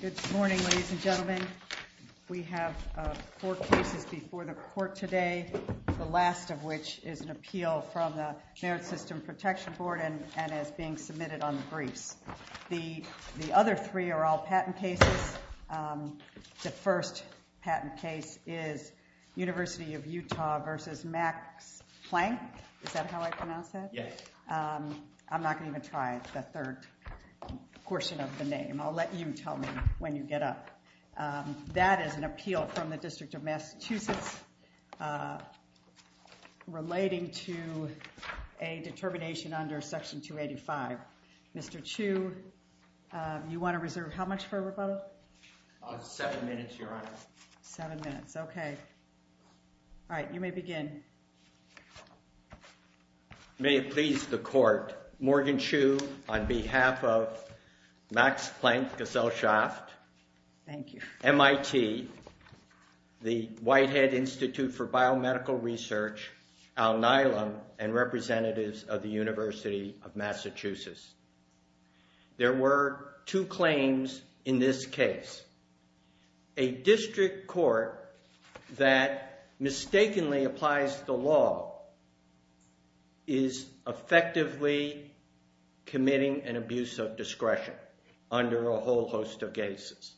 Good morning, ladies and gentlemen. We have four cases before the court today, the last of which is an appeal from the Merit System Protection Board and is being submitted on the briefs. The other three are all patent cases. The first patent case is University of Utah v. Max-Planck-Gesellschaft. That is an appeal from the District of Massachusetts relating to a determination under Section 285. Mr. Chu, you want to reserve how much for rebuttal? Seven minutes, Your Honor. Seven minutes, okay. All right, you may begin. May it please the Court, Morgan Chu on behalf of Max-Planck-Gesellschaft, MIT, the Whitehead Institute for Biomedical Research, Al Nylum, and representatives of the University of Massachusetts. There were two claims in this case. A district court that mistakenly applies the law is effectively committing an abuse of discretion under a whole host of cases,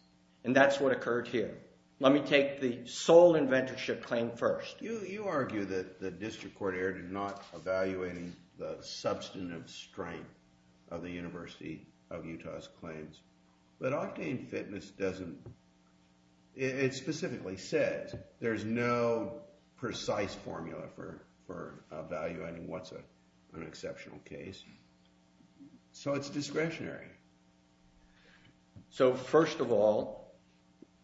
and that's what occurred here. Let me take the sole inventorship claim first. You argue that the district court error did not evaluate the substantive strength of the University of Utah's claims, but Octane Fitness doesn't. It specifically says there's no precise formula for evaluating what's an exceptional case, so it's discretionary. So, first of all,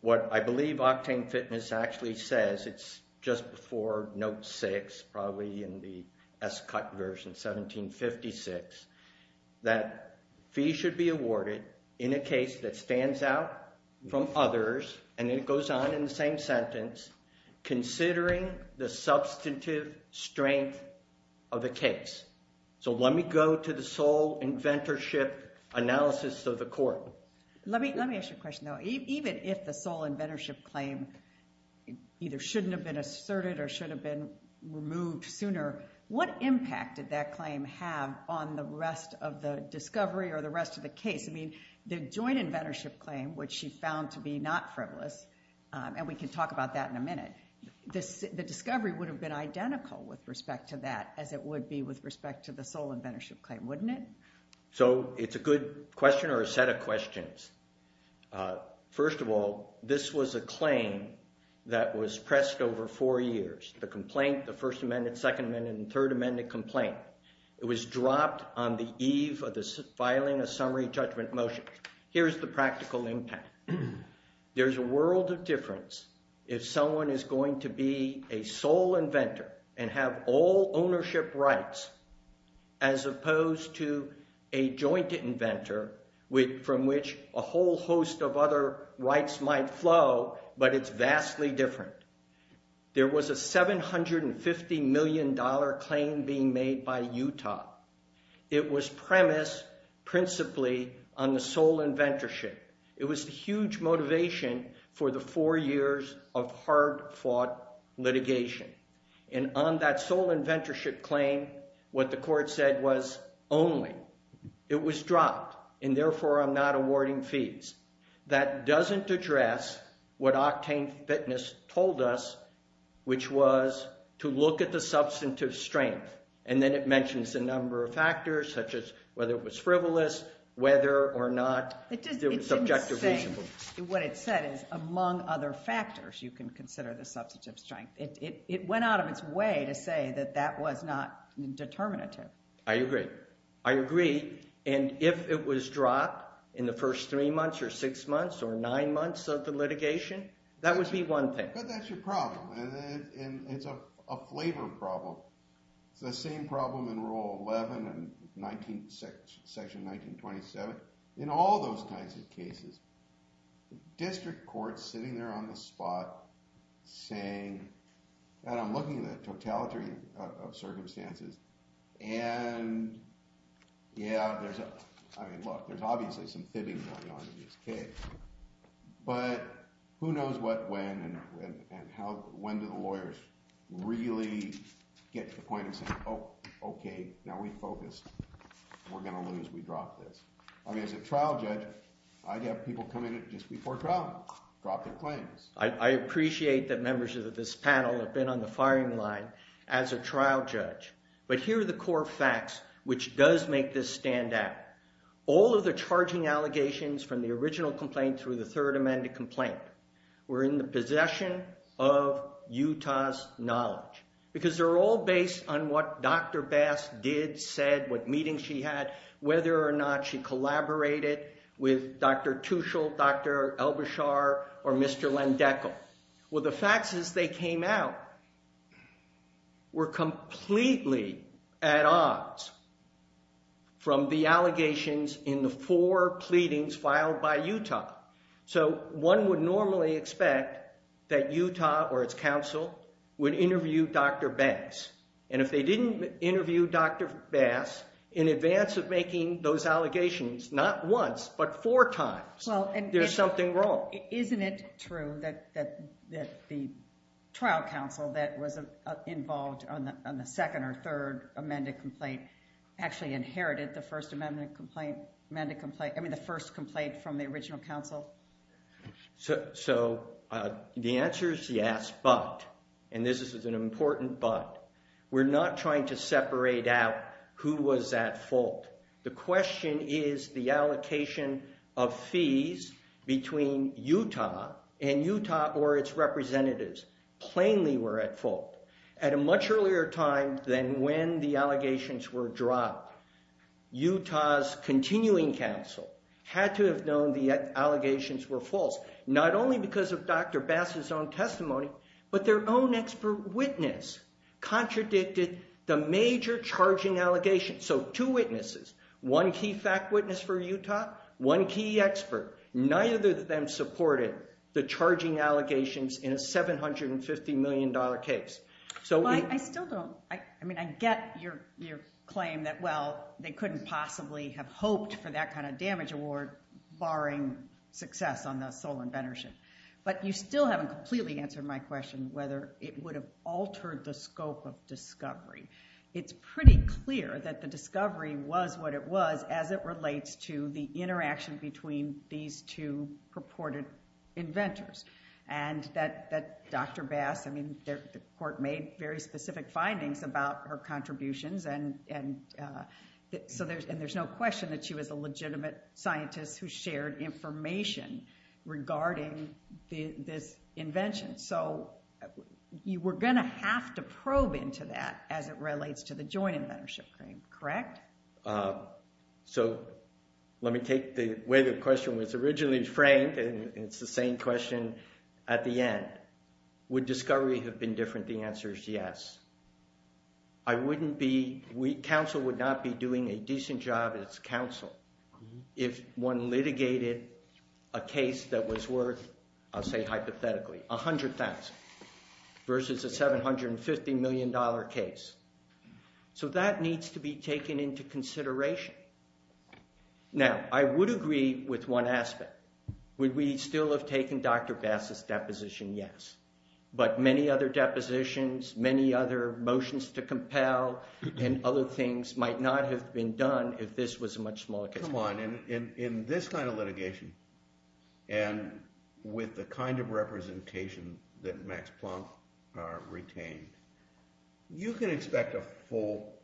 what I believe Octane Fitness actually says, it's just before Note 6, probably in the S-Cut version, 1756, that fees should be awarded in a case that stands out from others, and it goes on in the same sentence, considering the substantive strength of the case. So let me go to the sole inventorship analysis of the court. Let me ask you a question, though. Even if the sole inventorship claim either shouldn't have been asserted or should have been removed sooner, what impact did that claim have on the rest of the discovery or the rest of the case? I mean, the joint inventorship claim, which she found to be not frivolous, and we can talk about that in a minute, the discovery would have been identical with respect to that as it would be with respect to the sole inventorship claim, wouldn't it? So it's a good question or a set of questions. First of all, this was a claim that was pressed over four years. The complaint, the First Amendment, Second Amendment, and Third Amendment complaint, it was dropped on the eve of the filing of summary judgment motion. Here's the practical impact. There's a world of difference if someone is going to be a sole inventor and have all ownership rights as opposed to a joint inventor from which a whole host of other rights might flow, but it's vastly different. There was a $750 million claim being made by Utah. It was premised principally on the sole inventorship. It was the huge motivation for the four years of hard-fought litigation, and on that sole inventorship claim, what the court said was only. It was dropped, and therefore I'm not awarding fees. That doesn't address what Octane Fitness told us, which was to look at the substantive strength, and then it mentions a number of factors such as whether it was frivolous, whether or not it was subjectively frivolous. What it said is, among other factors, you can consider the substantive strength. It went out of its way to say that that was not determinative. I agree. I agree, and if it was dropped in the first three months or six months or nine months of the litigation, that would be one thing. But that's your problem, and it's a flavor problem. It's the same problem in Rule 11 and Section 1927. In all those kinds of cases, district courts sitting there on the spot saying, and I'm looking at the totalitarian circumstances, and yeah, there's a—I mean, look, there's obviously some fibbing going on in this case, but who knows what, when, and when do the courts get to the point of saying, oh, okay, now we focus, we're going to lose, we drop this. I mean, as a trial judge, I'd have people come in just before trial and drop their claims. I appreciate that members of this panel have been on the firing line as a trial judge, but here are the core facts which does make this stand out. All of the charging allegations from the original complaint through the Third Amendment complaint were in the possession of Utah's knowledge. Because they're all based on what Dr. Bass did, said, what meetings she had, whether or not she collaborated with Dr. Tushel, Dr. Al-Bashar, or Mr. Landeckel. Well, the facts as they came out were completely at odds from the allegations in the four pleadings filed by Utah. So one would normally expect that Utah or its counsel would interview Dr. Bass. And if they didn't interview Dr. Bass in advance of making those allegations, not once, but four times, there's something wrong. Isn't it true that the trial counsel that was involved on the second or third amended complaint actually inherited the First Amendment complaint from the original counsel? So the answer is yes, but, and this is an important but, we're not trying to separate out who was at fault. The question is the allocation of fees between Utah and Utah or its representatives plainly were at fault. At a much earlier time than when the allegations were dropped, Utah's continuing counsel had to have known the allegations were false, not only because of Dr. Bass's own testimony, but their own expert witness contradicted the major charging allegations. So two witnesses, one key fact witness for Utah, one key expert, neither of them supported the charging allegations in a $750 million case. So I still don't, I mean, I get your claim that, well, they couldn't possibly have hoped for that kind of damage award barring success on the sole inventorship. But you still haven't completely answered my question whether it would have altered the scope of discovery. It's pretty clear that the discovery was what it was as it relates to the interaction between these two purported inventors. And that Dr. Bass, I mean, the court made very specific findings about her contributions and so there's no question that she was a legitimate scientist who shared information regarding this invention. So you were going to have to probe into that as it relates to the joint inventorship claim, correct? Correct. So let me take the way the question was originally framed and it's the same question at the end. Would discovery have been different? The answer is yes. I wouldn't be, counsel would not be doing a decent job as counsel if one litigated a case that was worth, I'll say hypothetically, $100,000 versus a $750 million case. So that needs to be taken into consideration. Now I would agree with one aspect. Would we still have taken Dr. Bass's deposition? Yes. But many other depositions, many other motions to compel and other things might not have been done if this was a much smaller case. Come on, in this kind of litigation and with the kind of representation that Max Planck retained, you can expect a full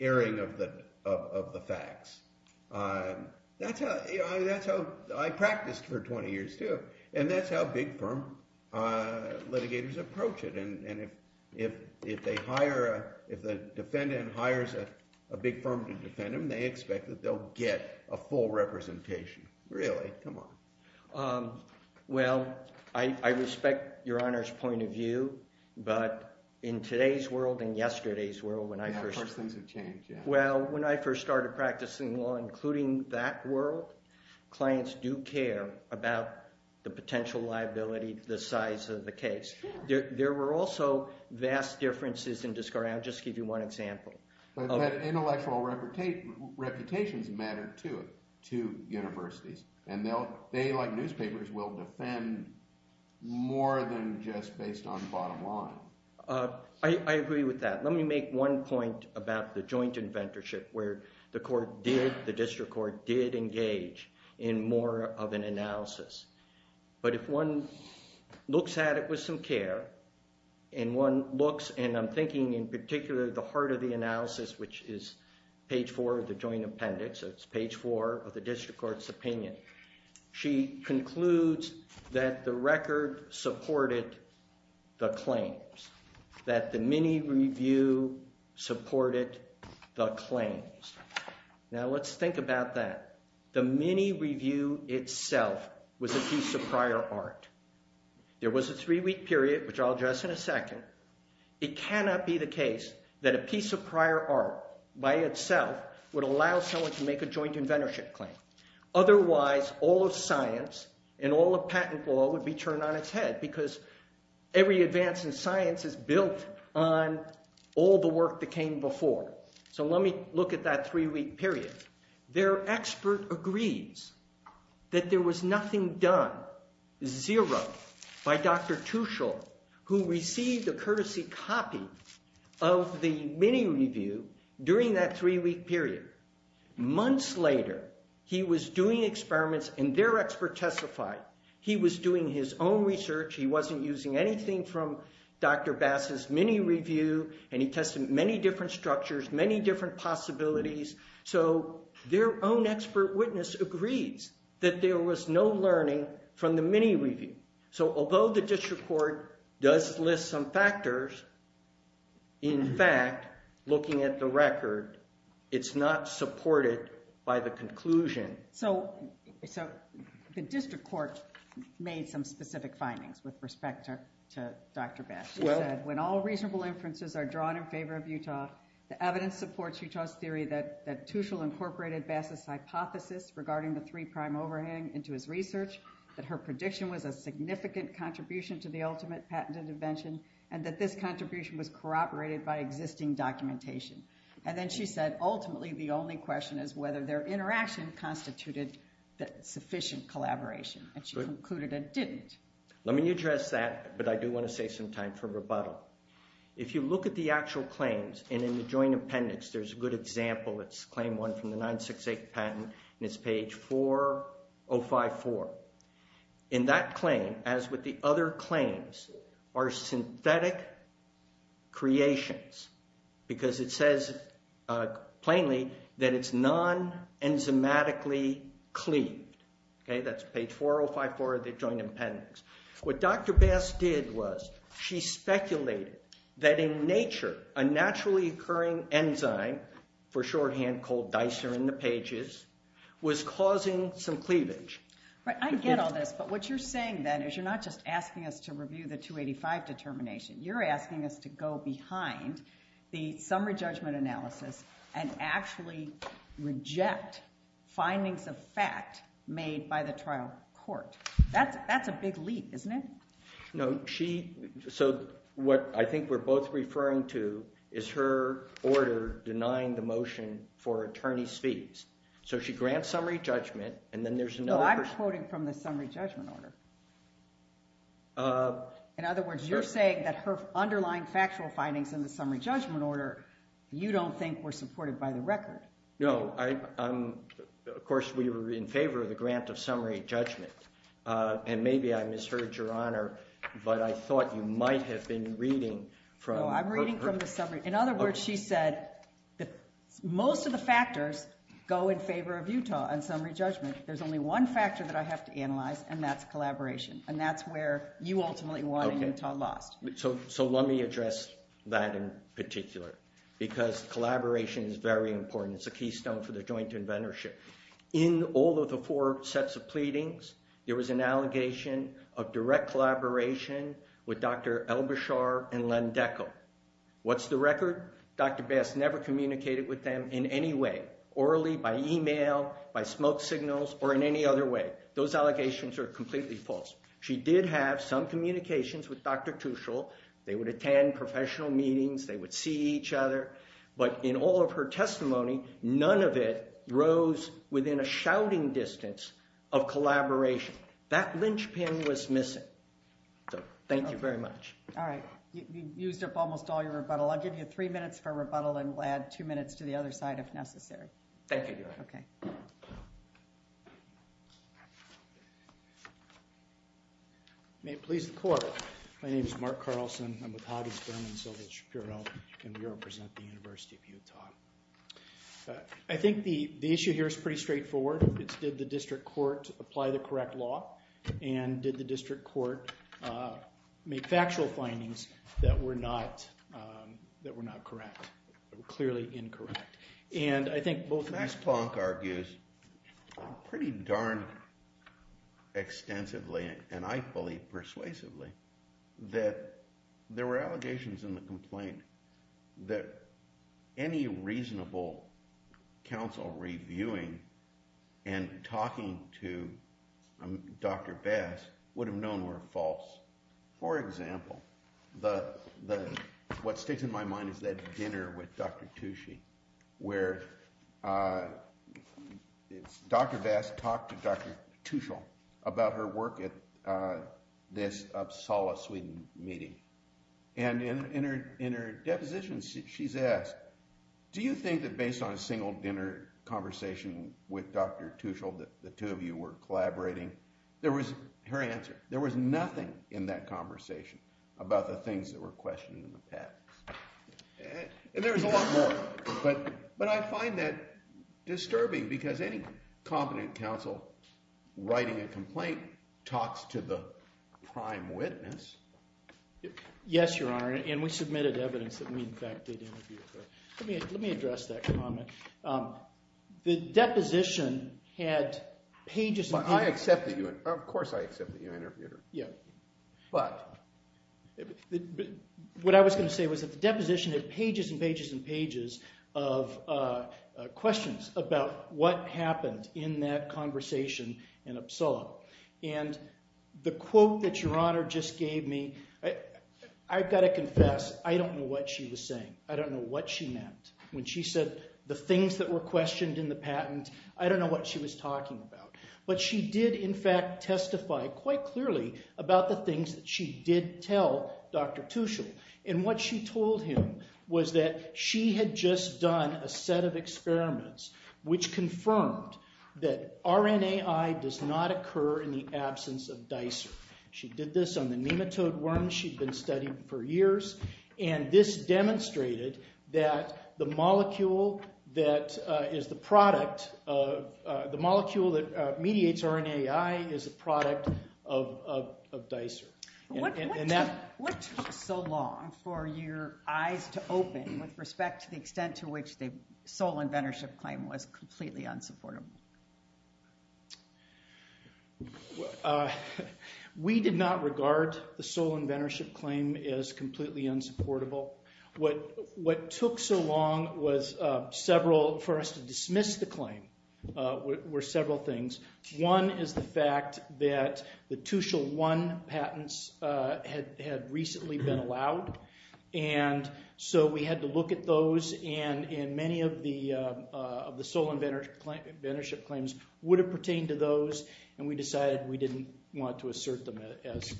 airing of the facts. That's how I practiced for 20 years too and that's how big firm litigators approach it and if the defendant hires a big firm to defend him, they expect that they'll get a full representation. Really, come on. Well, I respect your Honor's point of view, but in today's world and yesterday's world when I first... Of course things have changed, yeah. Well, when I first started practicing law, including that world, clients do care about the potential liability, the size of the case. There were also vast differences in discovery, I'll just give you one example. But intellectual reputations matter too to universities and they, like newspapers, will defend more than just based on the bottom line. I agree with that. Let me make one point about the joint inventorship where the court did, the district court did engage in more of an analysis. But if one looks at it with some care and one looks and I'm thinking in particular the part of the analysis which is page four of the joint appendix, it's page four of the district court's opinion. She concludes that the record supported the claims, that the mini-review supported the claims. Now let's think about that. The mini-review itself was a piece of prior art. There was a three-week period, which I'll address in a second. It cannot be the case that a piece of prior art by itself would allow someone to make a joint inventorship claim. Otherwise all of science and all of patent law would be turned on its head because every advance in science is built on all the work that came before. So let me look at that three-week period. Their expert agrees that there was nothing done, zero, by Dr. Tuchel who received a courtesy copy of the mini-review during that three-week period. Months later he was doing experiments and their expert testified. He was doing his own research. He wasn't using anything from Dr. Bass's mini-review and he tested many different structures, many different possibilities. So their own expert witness agrees that there was no learning from the mini-review. So although the district court does list some factors, in fact, looking at the record, it's not supported by the conclusion. So the district court made some specific findings with respect to Dr. Bass. It said, when all reasonable inferences are drawn in favor of Utah, the evidence supports Utah's theory that Tuchel incorporated Bass's hypothesis regarding the three-prime overhang into his research, that her prediction was a significant contribution to the ultimate patent intervention, and that this contribution was corroborated by existing documentation. And then she said, ultimately, the only question is whether their interaction constituted sufficient collaboration. And she concluded it didn't. Let me address that, but I do want to save some time for rebuttal. If you look at the actual claims, and in the joint appendix, there's a good example. It's claim one from the 9-6-8 patent, and it's page 4054. In that claim, as with the other claims, are synthetic creations, because it says, plainly, that it's non-enzymatically cleaned. That's page 4054 of the joint appendix. What Dr. Bass did was, she speculated that, in nature, a naturally occurring enzyme, for shorthand, called Dicer in the pages, was causing some cleavage. Right, I get all this, but what you're saying, then, is you're not just asking us to review the 285 determination, you're asking us to go behind the summary judgment analysis and actually reject findings of fact made by the trial court. That's a big leap, isn't it? No, she, so what I think we're both referring to is her order denying the motion for attorney's fees. So she grants summary judgment, and then there's another person- No, I'm quoting from the summary judgment order. In other words, you're saying that her underlying factual findings in the summary judgment order, you don't think were supported by the record. No, of course, we were in favor of the grant of summary judgment, and maybe I misheard your honor, but I thought you might have been reading from- No, I'm reading from the summary, in other words, she said that most of the factors go in favor of Utah on summary judgment. There's only one factor that I have to analyze, and that's collaboration, and that's where you ultimately want Utah lost. So let me address that in particular, because collaboration is very important. It's a keystone for the joint inventorship. In all of the four sets of pleadings, there was an allegation of direct collaboration with Dr. El-Bashar and Len Dekel. What's the record? Dr. Bass never communicated with them in any way, orally, by email, by smoke signals, or in any other way. Those allegations are completely false. She did have some communications with Dr. Tuchel, they would attend professional meetings, they would see each other, but in all of her testimony, none of it rose within a shouting distance of collaboration. That linchpin was missing, so thank you very much. All right. You've used up almost all your rebuttal, I'll give you three minutes for rebuttal, and we'll add two minutes to the other side if necessary. Thank you, Your Honor. Okay. May it please the Court. My name is Mark Carlson, I'm with Hages, Berman, Silva, and Shapiro, and we represent the University of Utah. I think the issue here is pretty straightforward, it's did the district court apply the correct law, and did the district court make factual findings that were not correct, clearly incorrect? And I think both of these- I thought pretty darn extensively, and I believe persuasively, that there were allegations in the complaint that any reasonable counsel reviewing and talking to Dr. Bass would have known were false. For example, what sticks in my mind is that dinner with Dr. Tucci, where Dr. Bass talked to Dr. Tuchel about her work at this Uppsala, Sweden meeting, and in her deposition, she's asked, do you think that based on a single dinner conversation with Dr. Tuchel, the two of you were collaborating, there was- her answer- there was nothing in that conversation about the things that were questioned in the past, and there's a lot more. But I find that disturbing, because any competent counsel writing a complaint talks to the prime witness. Yes, Your Honor, and we submitted evidence that we, in fact, did interview her. Let me address that comment. The deposition had pages and pages of questions about what happened in that conversation in Uppsala. And the quote that Your Honor just gave me, I've got to confess, I don't know what she was saying. I don't know what she meant when she said, the things that were questioned in the patent, I don't know what she was talking about. But she did, in fact, testify quite clearly about the things that she did tell Dr. Tuchel. And what she told him was that she had just done a set of experiments which confirmed that RNAi does not occur in the absence of DICER. She did this on the nematode worms she'd been studying for years, and this demonstrated that the molecule that is the product, the molecule that mediates RNAi is a product of DICER. And that... What took so long for your eyes to open with respect to the extent to which the sole inventorship claim was completely unsupportable? Well, we did not regard the sole inventorship claim as completely unsupportable. What took so long was several, for us to dismiss the claim, were several things. One is the fact that the Tuchel 1 patents had recently been allowed, and so we had to would have pertained to those, and we decided we didn't want to assert them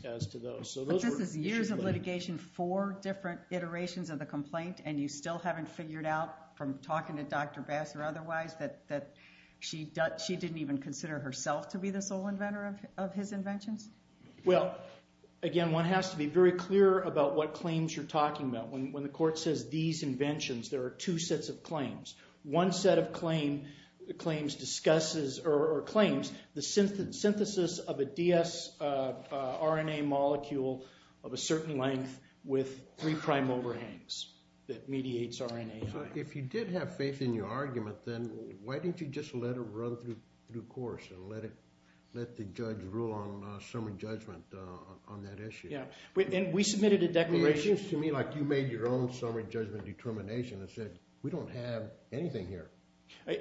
as to those. So those were... But this is years of litigation, four different iterations of the complaint, and you still haven't figured out from talking to Dr. Bass or otherwise that she didn't even consider herself to be the sole inventor of his inventions? Well, again, one has to be very clear about what claims you're talking about. One set of claims discusses, or claims, the synthesis of a DS RNA molecule of a certain length with three prime overhangs that mediates RNAi. If you did have faith in your argument, then why didn't you just let it run through course and let the judge rule on summary judgment on that issue? We submitted a declaration... I don't have anything here. I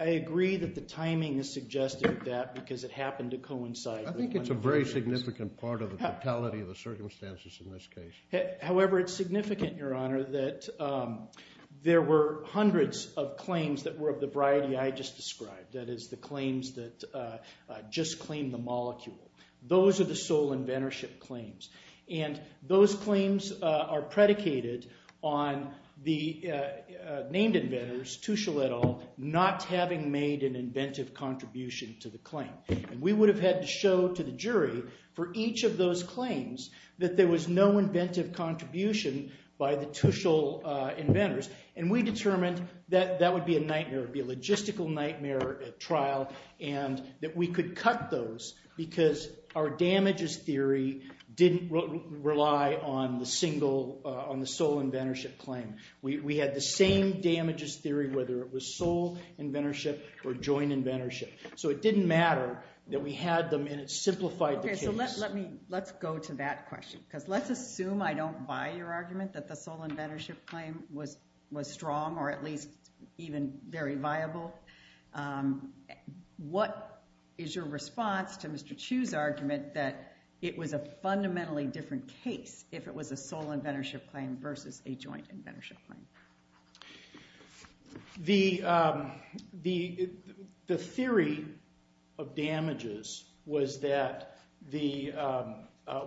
agree that the timing is suggestive of that, because it happened to coincide with... I think it's a very significant part of the totality of the circumstances in this case. However, it's significant, Your Honor, that there were hundreds of claims that were of the variety I just described, that is, the claims that just claim the molecule. Those are the sole inventorship claims. Those claims are predicated on the named inventors, Tuschel et al., not having made an inventive contribution to the claim. We would have had to show to the jury for each of those claims that there was no inventive contribution by the Tuschel inventors. We determined that that would be a nightmare, it would be a logistical nightmare trial, and that we could cut those because our damages theory didn't rely on the sole inventorship claim. We had the same damages theory, whether it was sole inventorship or joint inventorship. So it didn't matter that we had them, and it simplified the case. Let's go to that question, because let's assume I don't buy your argument that the sole inventorship claim was strong, or at least even very viable. What is your response to Mr. Chu's argument that it was a fundamentally different case if it was a sole inventorship claim versus a joint inventorship claim? The theory of damages was that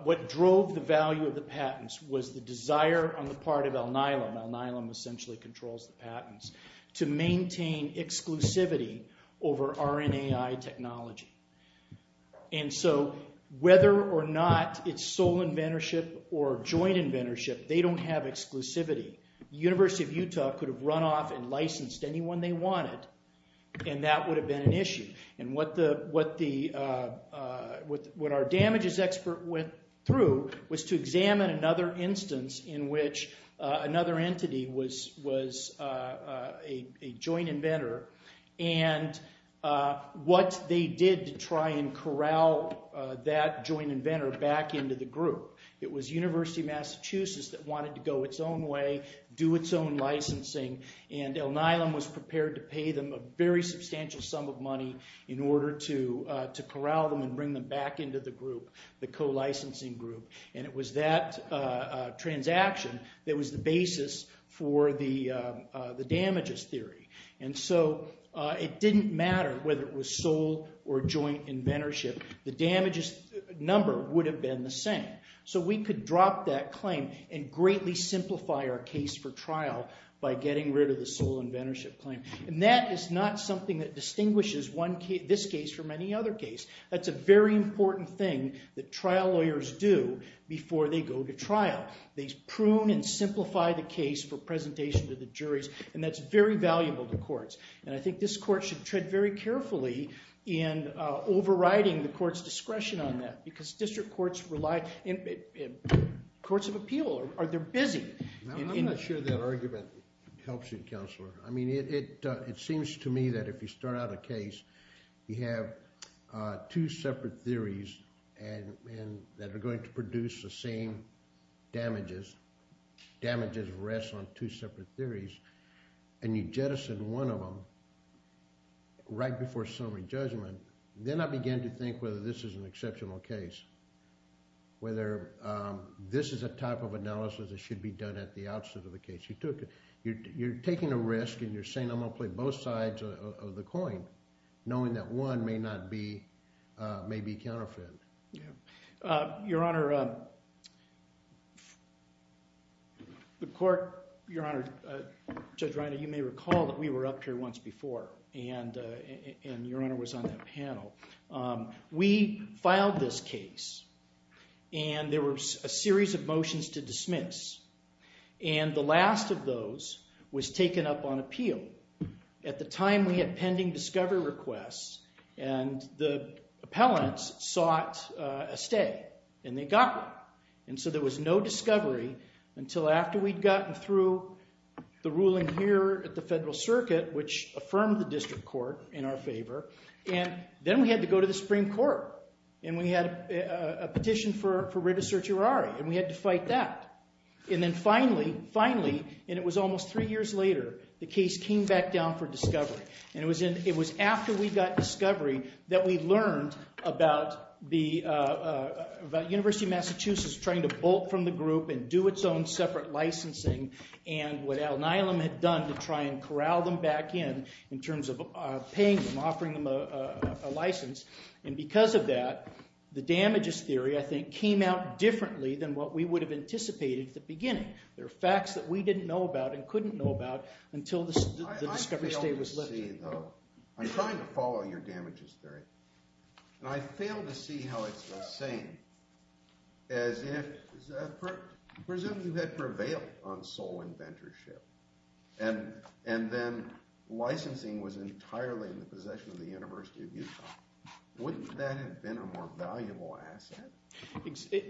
what drove the value of the patents was the desire on the part of Al-Nilam, Al-Nilam essentially controls the patents, to maintain exclusivity over RNAI technology. And so whether or not it's sole inventorship or joint inventorship, they don't have exclusivity. The University of Utah could have run off and licensed anyone they wanted, and that would have been an issue. And what our damages expert went through was to examine another instance in which another entity was a joint inventor, and what they did to try and corral that joint inventor back into the group. It was University of Massachusetts that wanted to go its own way, do its own licensing, and in order to corral them and bring them back into the group, the co-licensing group. And it was that transaction that was the basis for the damages theory. And so it didn't matter whether it was sole or joint inventorship. The damages number would have been the same. So we could drop that claim and greatly simplify our case for trial by getting rid of the sole inventorship claim. And that is not something that distinguishes this case from any other case. That's a very important thing that trial lawyers do before they go to trial. They prune and simplify the case for presentation to the juries, and that's very valuable to courts. And I think this court should tread very carefully in overriding the court's discretion on that, because district courts rely, courts of appeal, they're busy. I'm not sure that argument helps you, Counselor. I mean, it seems to me that if you start out a case, you have two separate theories that are going to produce the same damages, damages rest on two separate theories, and you jettison one of them right before summary judgment, then I begin to think whether this is an exceptional case, whether this is a type of analysis that should be done at the outset of the case. You're taking a risk, and you're saying, I'm going to play both sides of the coin, knowing that one may be counterfeit. Your Honor, the court, Your Honor, Judge Reiner, you may recall that we were up here once before, and Your Honor was on that panel. We filed this case, and there was a series of motions to dismiss. And the last of those was taken up on appeal. At the time, we had pending discovery requests, and the appellants sought a stay, and they got one. And so there was no discovery until after we'd gotten through the ruling here at the Federal Circuit, which affirmed the district court in our favor. And then we had to go to the Supreme Court, and we had a petition for writ of certiorari, and we had to fight that. And then finally, finally, and it was almost three years later, the case came back down for discovery. And it was after we got discovery that we learned about the University of Massachusetts trying to bolt from the group and do its own separate licensing, and what Al Nylum had done to try and corral them back in, in terms of paying them, offering them a license. And because of that, the damages theory, I think, came out differently than what we would have anticipated at the beginning. There are facts that we didn't know about and couldn't know about until the discovery stay was lifted. I failed to see, though. I'm trying to follow your damages theory. And I failed to see how it's the same, as if, presumably you had prevailed on sole inventorship, and then licensing was entirely in the possession of the University of Utah. Wouldn't that have been a more valuable asset?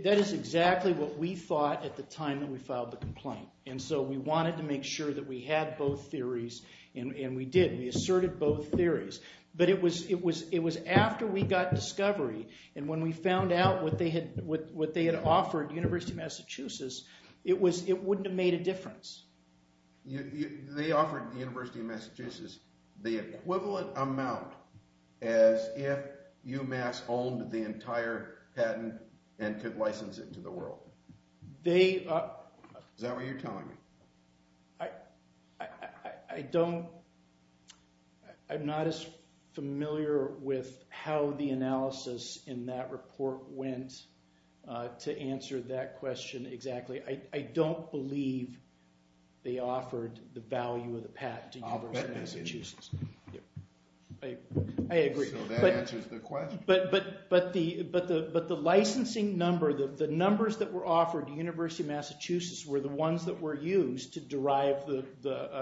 That is exactly what we thought at the time that we filed the complaint. And so we wanted to make sure that we had both theories, and we did. We asserted both theories. But it was after we got discovery, and when we found out what they had offered University of Massachusetts, it wouldn't have made a difference. They offered the University of Massachusetts the equivalent amount as if UMass owned the entire patent and could license it to the world. Is that what you're telling me? I'm not as familiar with how the analysis in that report went to answer that question exactly. I don't believe they offered the value of the patent to University of Massachusetts. I agree. So that answers the question. But the licensing number, the numbers that were offered to University of Massachusetts were the ones that were used to derive the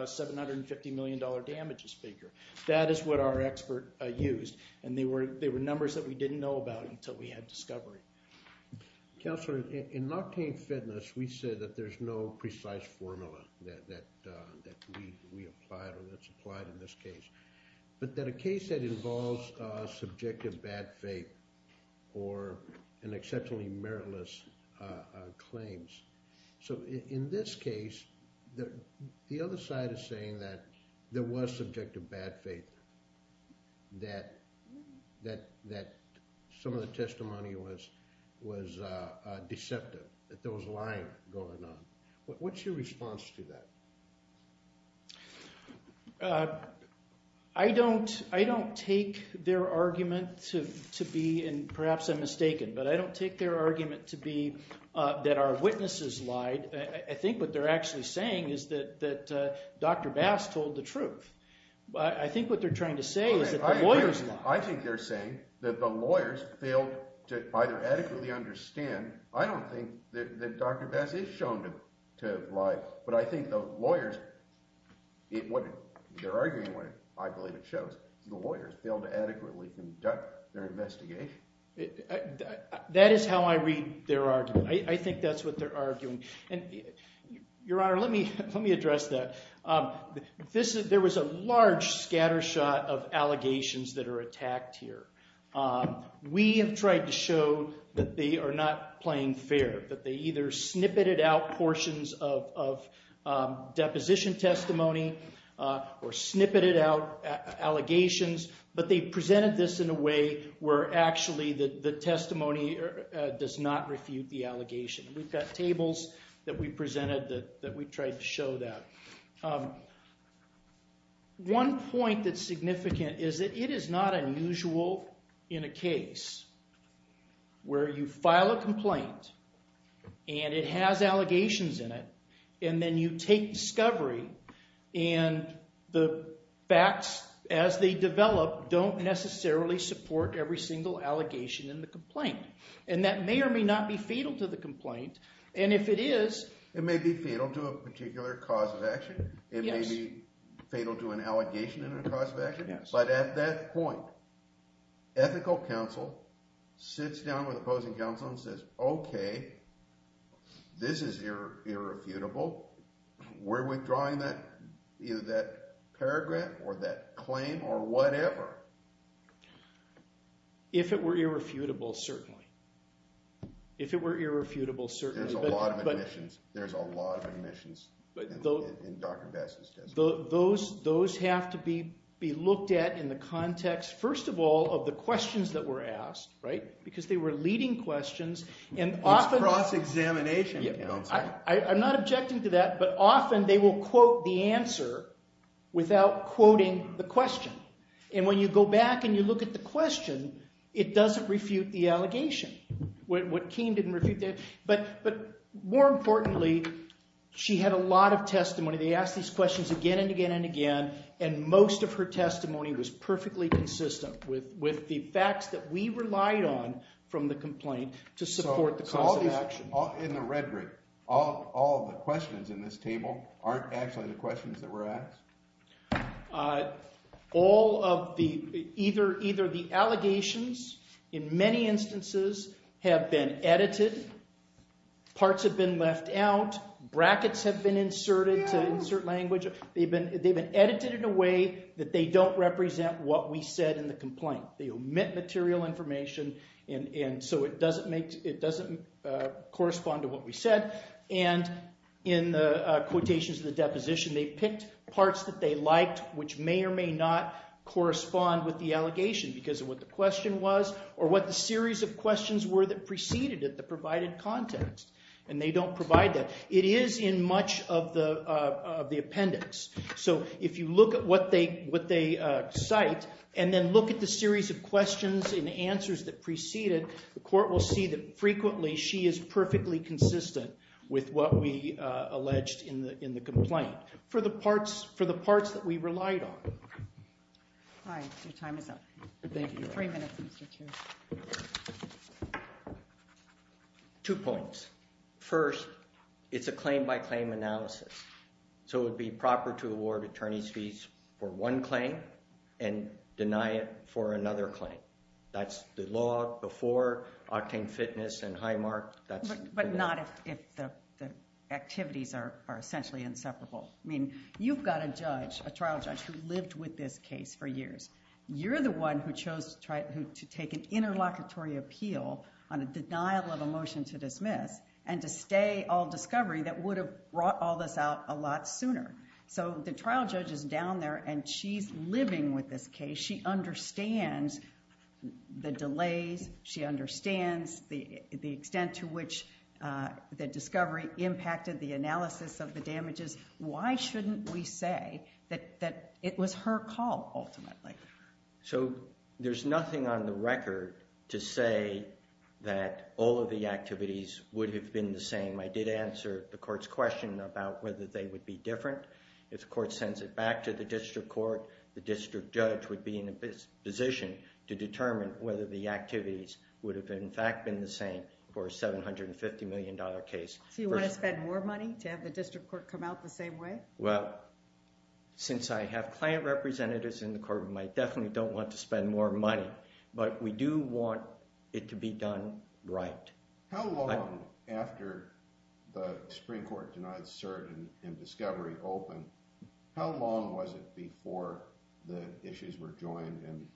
$750 million damages figure. That is what our expert used. And they were numbers that we didn't know about until we had discovery. Counselor, in Noctain Fitness, we said that there's no precise formula that we applied or that's applied in this case, but that a case that involves subjective bad faith or an exceptionally meritless claims. So in this case, the other side is saying that there was subjective bad faith, that some of the testimony was deceptive, that there was lying going on. What's your response to that? I don't take their argument to be, and perhaps I'm mistaken, but I don't take their argument to be that our witnesses lied. I think what they're actually saying is that Dr. Bass told the truth. I think what they're trying to say is that the lawyers lied. I think they're saying that the lawyers failed to either adequately understand. I don't think that Dr. Bass is shown to have lied. But I think the lawyers, what they're arguing, I believe it shows, the lawyers failed to adequately conduct their investigation. That is how I read their argument. I think that's what they're arguing. Your Honor, let me address that. There was a large scattershot of allegations that are attacked here. We have tried to show that they are not playing fair, that they either snippeted out portions of deposition testimony or snippeted out allegations, but they presented this in a way where actually the testimony does not refute the allegation. We've got tables that we presented that we tried to show that. One point that's significant is that it is not unusual in a case where you file a complaint and it has allegations in it, and then you take discovery and the facts, as they develop, don't necessarily support every single allegation in the complaint. And that may or may not be fatal to the complaint, and if it is... It may be fatal to a particular cause of action. It may be fatal to an allegation in a cause of action. But at that point, ethical counsel sits down with opposing counsel and says, OK, this is irrefutable. We're withdrawing that paragraph or that claim or whatever. If it were irrefutable, certainly. If it were irrefutable, certainly. There's a lot of omissions in Dr. Bass's testimony. Those have to be looked at in the context, first of all, of the questions that were asked, right? Because they were leading questions, and often... It's cross-examination, counsel. I'm not objecting to that, but often they will quote the answer without quoting the question. And when you go back and you look at the question, it doesn't refute the allegation. What came didn't refute that. But more importantly, she had a lot of testimony. They asked these questions again and again and again, and most of her testimony was perfectly consistent with the facts that we relied on from the complaint to support the cause of action. So in the rhetoric, all the questions in this table aren't actually the questions that were asked? All of the... Either the allegations, in many instances, have been edited, parts have been left out, brackets have been inserted to insert language. They've been edited in a way that they don't represent what we said in the complaint. They omit material information, and so it doesn't correspond to what we said. And in the quotations of the deposition, they picked parts that they liked, which may or may not correspond with the allegation because of what the question was or what the series of questions were that preceded it that provided context. And they don't provide that. It is in much of the appendix. So if you look at what they cite and then look at the series of questions and answers that preceded, the court will see that frequently she is perfectly consistent with what we alleged in the complaint for the parts that we relied on. All right. Your time is up. Thank you. Three minutes, Mr. Chair. Two points. First, it's a claim-by-claim analysis. So it would be proper to award attorney's fees for one claim and deny it for another claim. That's the law before Octane Fitness and Highmark. But not if the activities are essentially inseparable. I mean, you've got a judge, a trial judge, who lived with this case for years. You're the one who chose to take an interlocutory appeal on a denial of a motion to dismiss and to stay all discovery that would have brought all this out a lot sooner. So the trial judge is down there, and she's living with this case. She understands the delays. She understands the extent to which the discovery impacted the analysis of the damages. Why shouldn't we say that it was her call ultimately? So there's nothing on the record to say that all of the activities would have been the same. I did answer the court's question about whether they would be different. If the court sends it back to the district court, the district judge would be in a position to determine whether the activities would have, in fact, been the same for a $750 million case. So you want to spend more money to have the district court come out the same way? Well, since I have client representatives in the courtroom, I definitely don't want to spend more money. But we do want it to be done right. How long after the Supreme Court denied cert in discovery open, how long was it before the issues were joined and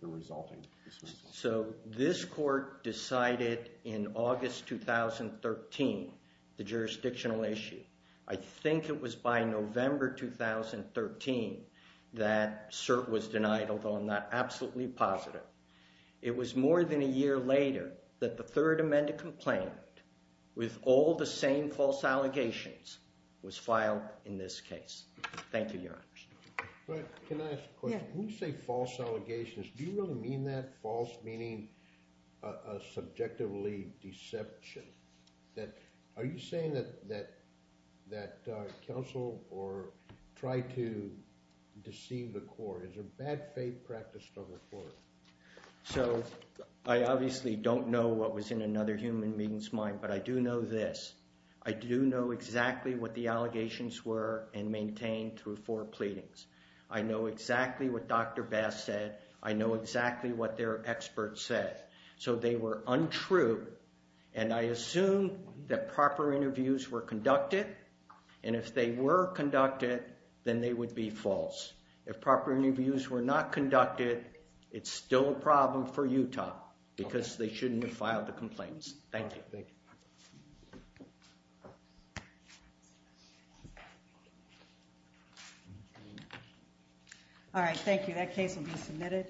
the resulting dismissal? So this court decided in August 2013 the jurisdictional issue. I think it was by November 2013 that cert was denied, although I'm not absolutely positive. It was more than a year later that the Third Amendment complaint, with all the same false allegations, was filed in this case. Thank you, Your Honor. Can I ask a question? When you say false allegations, do you really mean that? False meaning a subjectively deception. Are you saying that counsel tried to deceive the court? Is there bad faith practiced on the court? So I obviously don't know what was in another human being's mind, but I do know this. I do know exactly what the allegations were and maintained through four pleadings. I know exactly what Dr. Bass said. I know exactly what their experts said. So they were untrue, and I assume that proper interviews were conducted, and if they were conducted, then they would be false. If proper interviews were not conducted, it's still a problem for Utah because they shouldn't have filed the complaints. Thank you. Thank you. All right, thank you. That case will be submitted.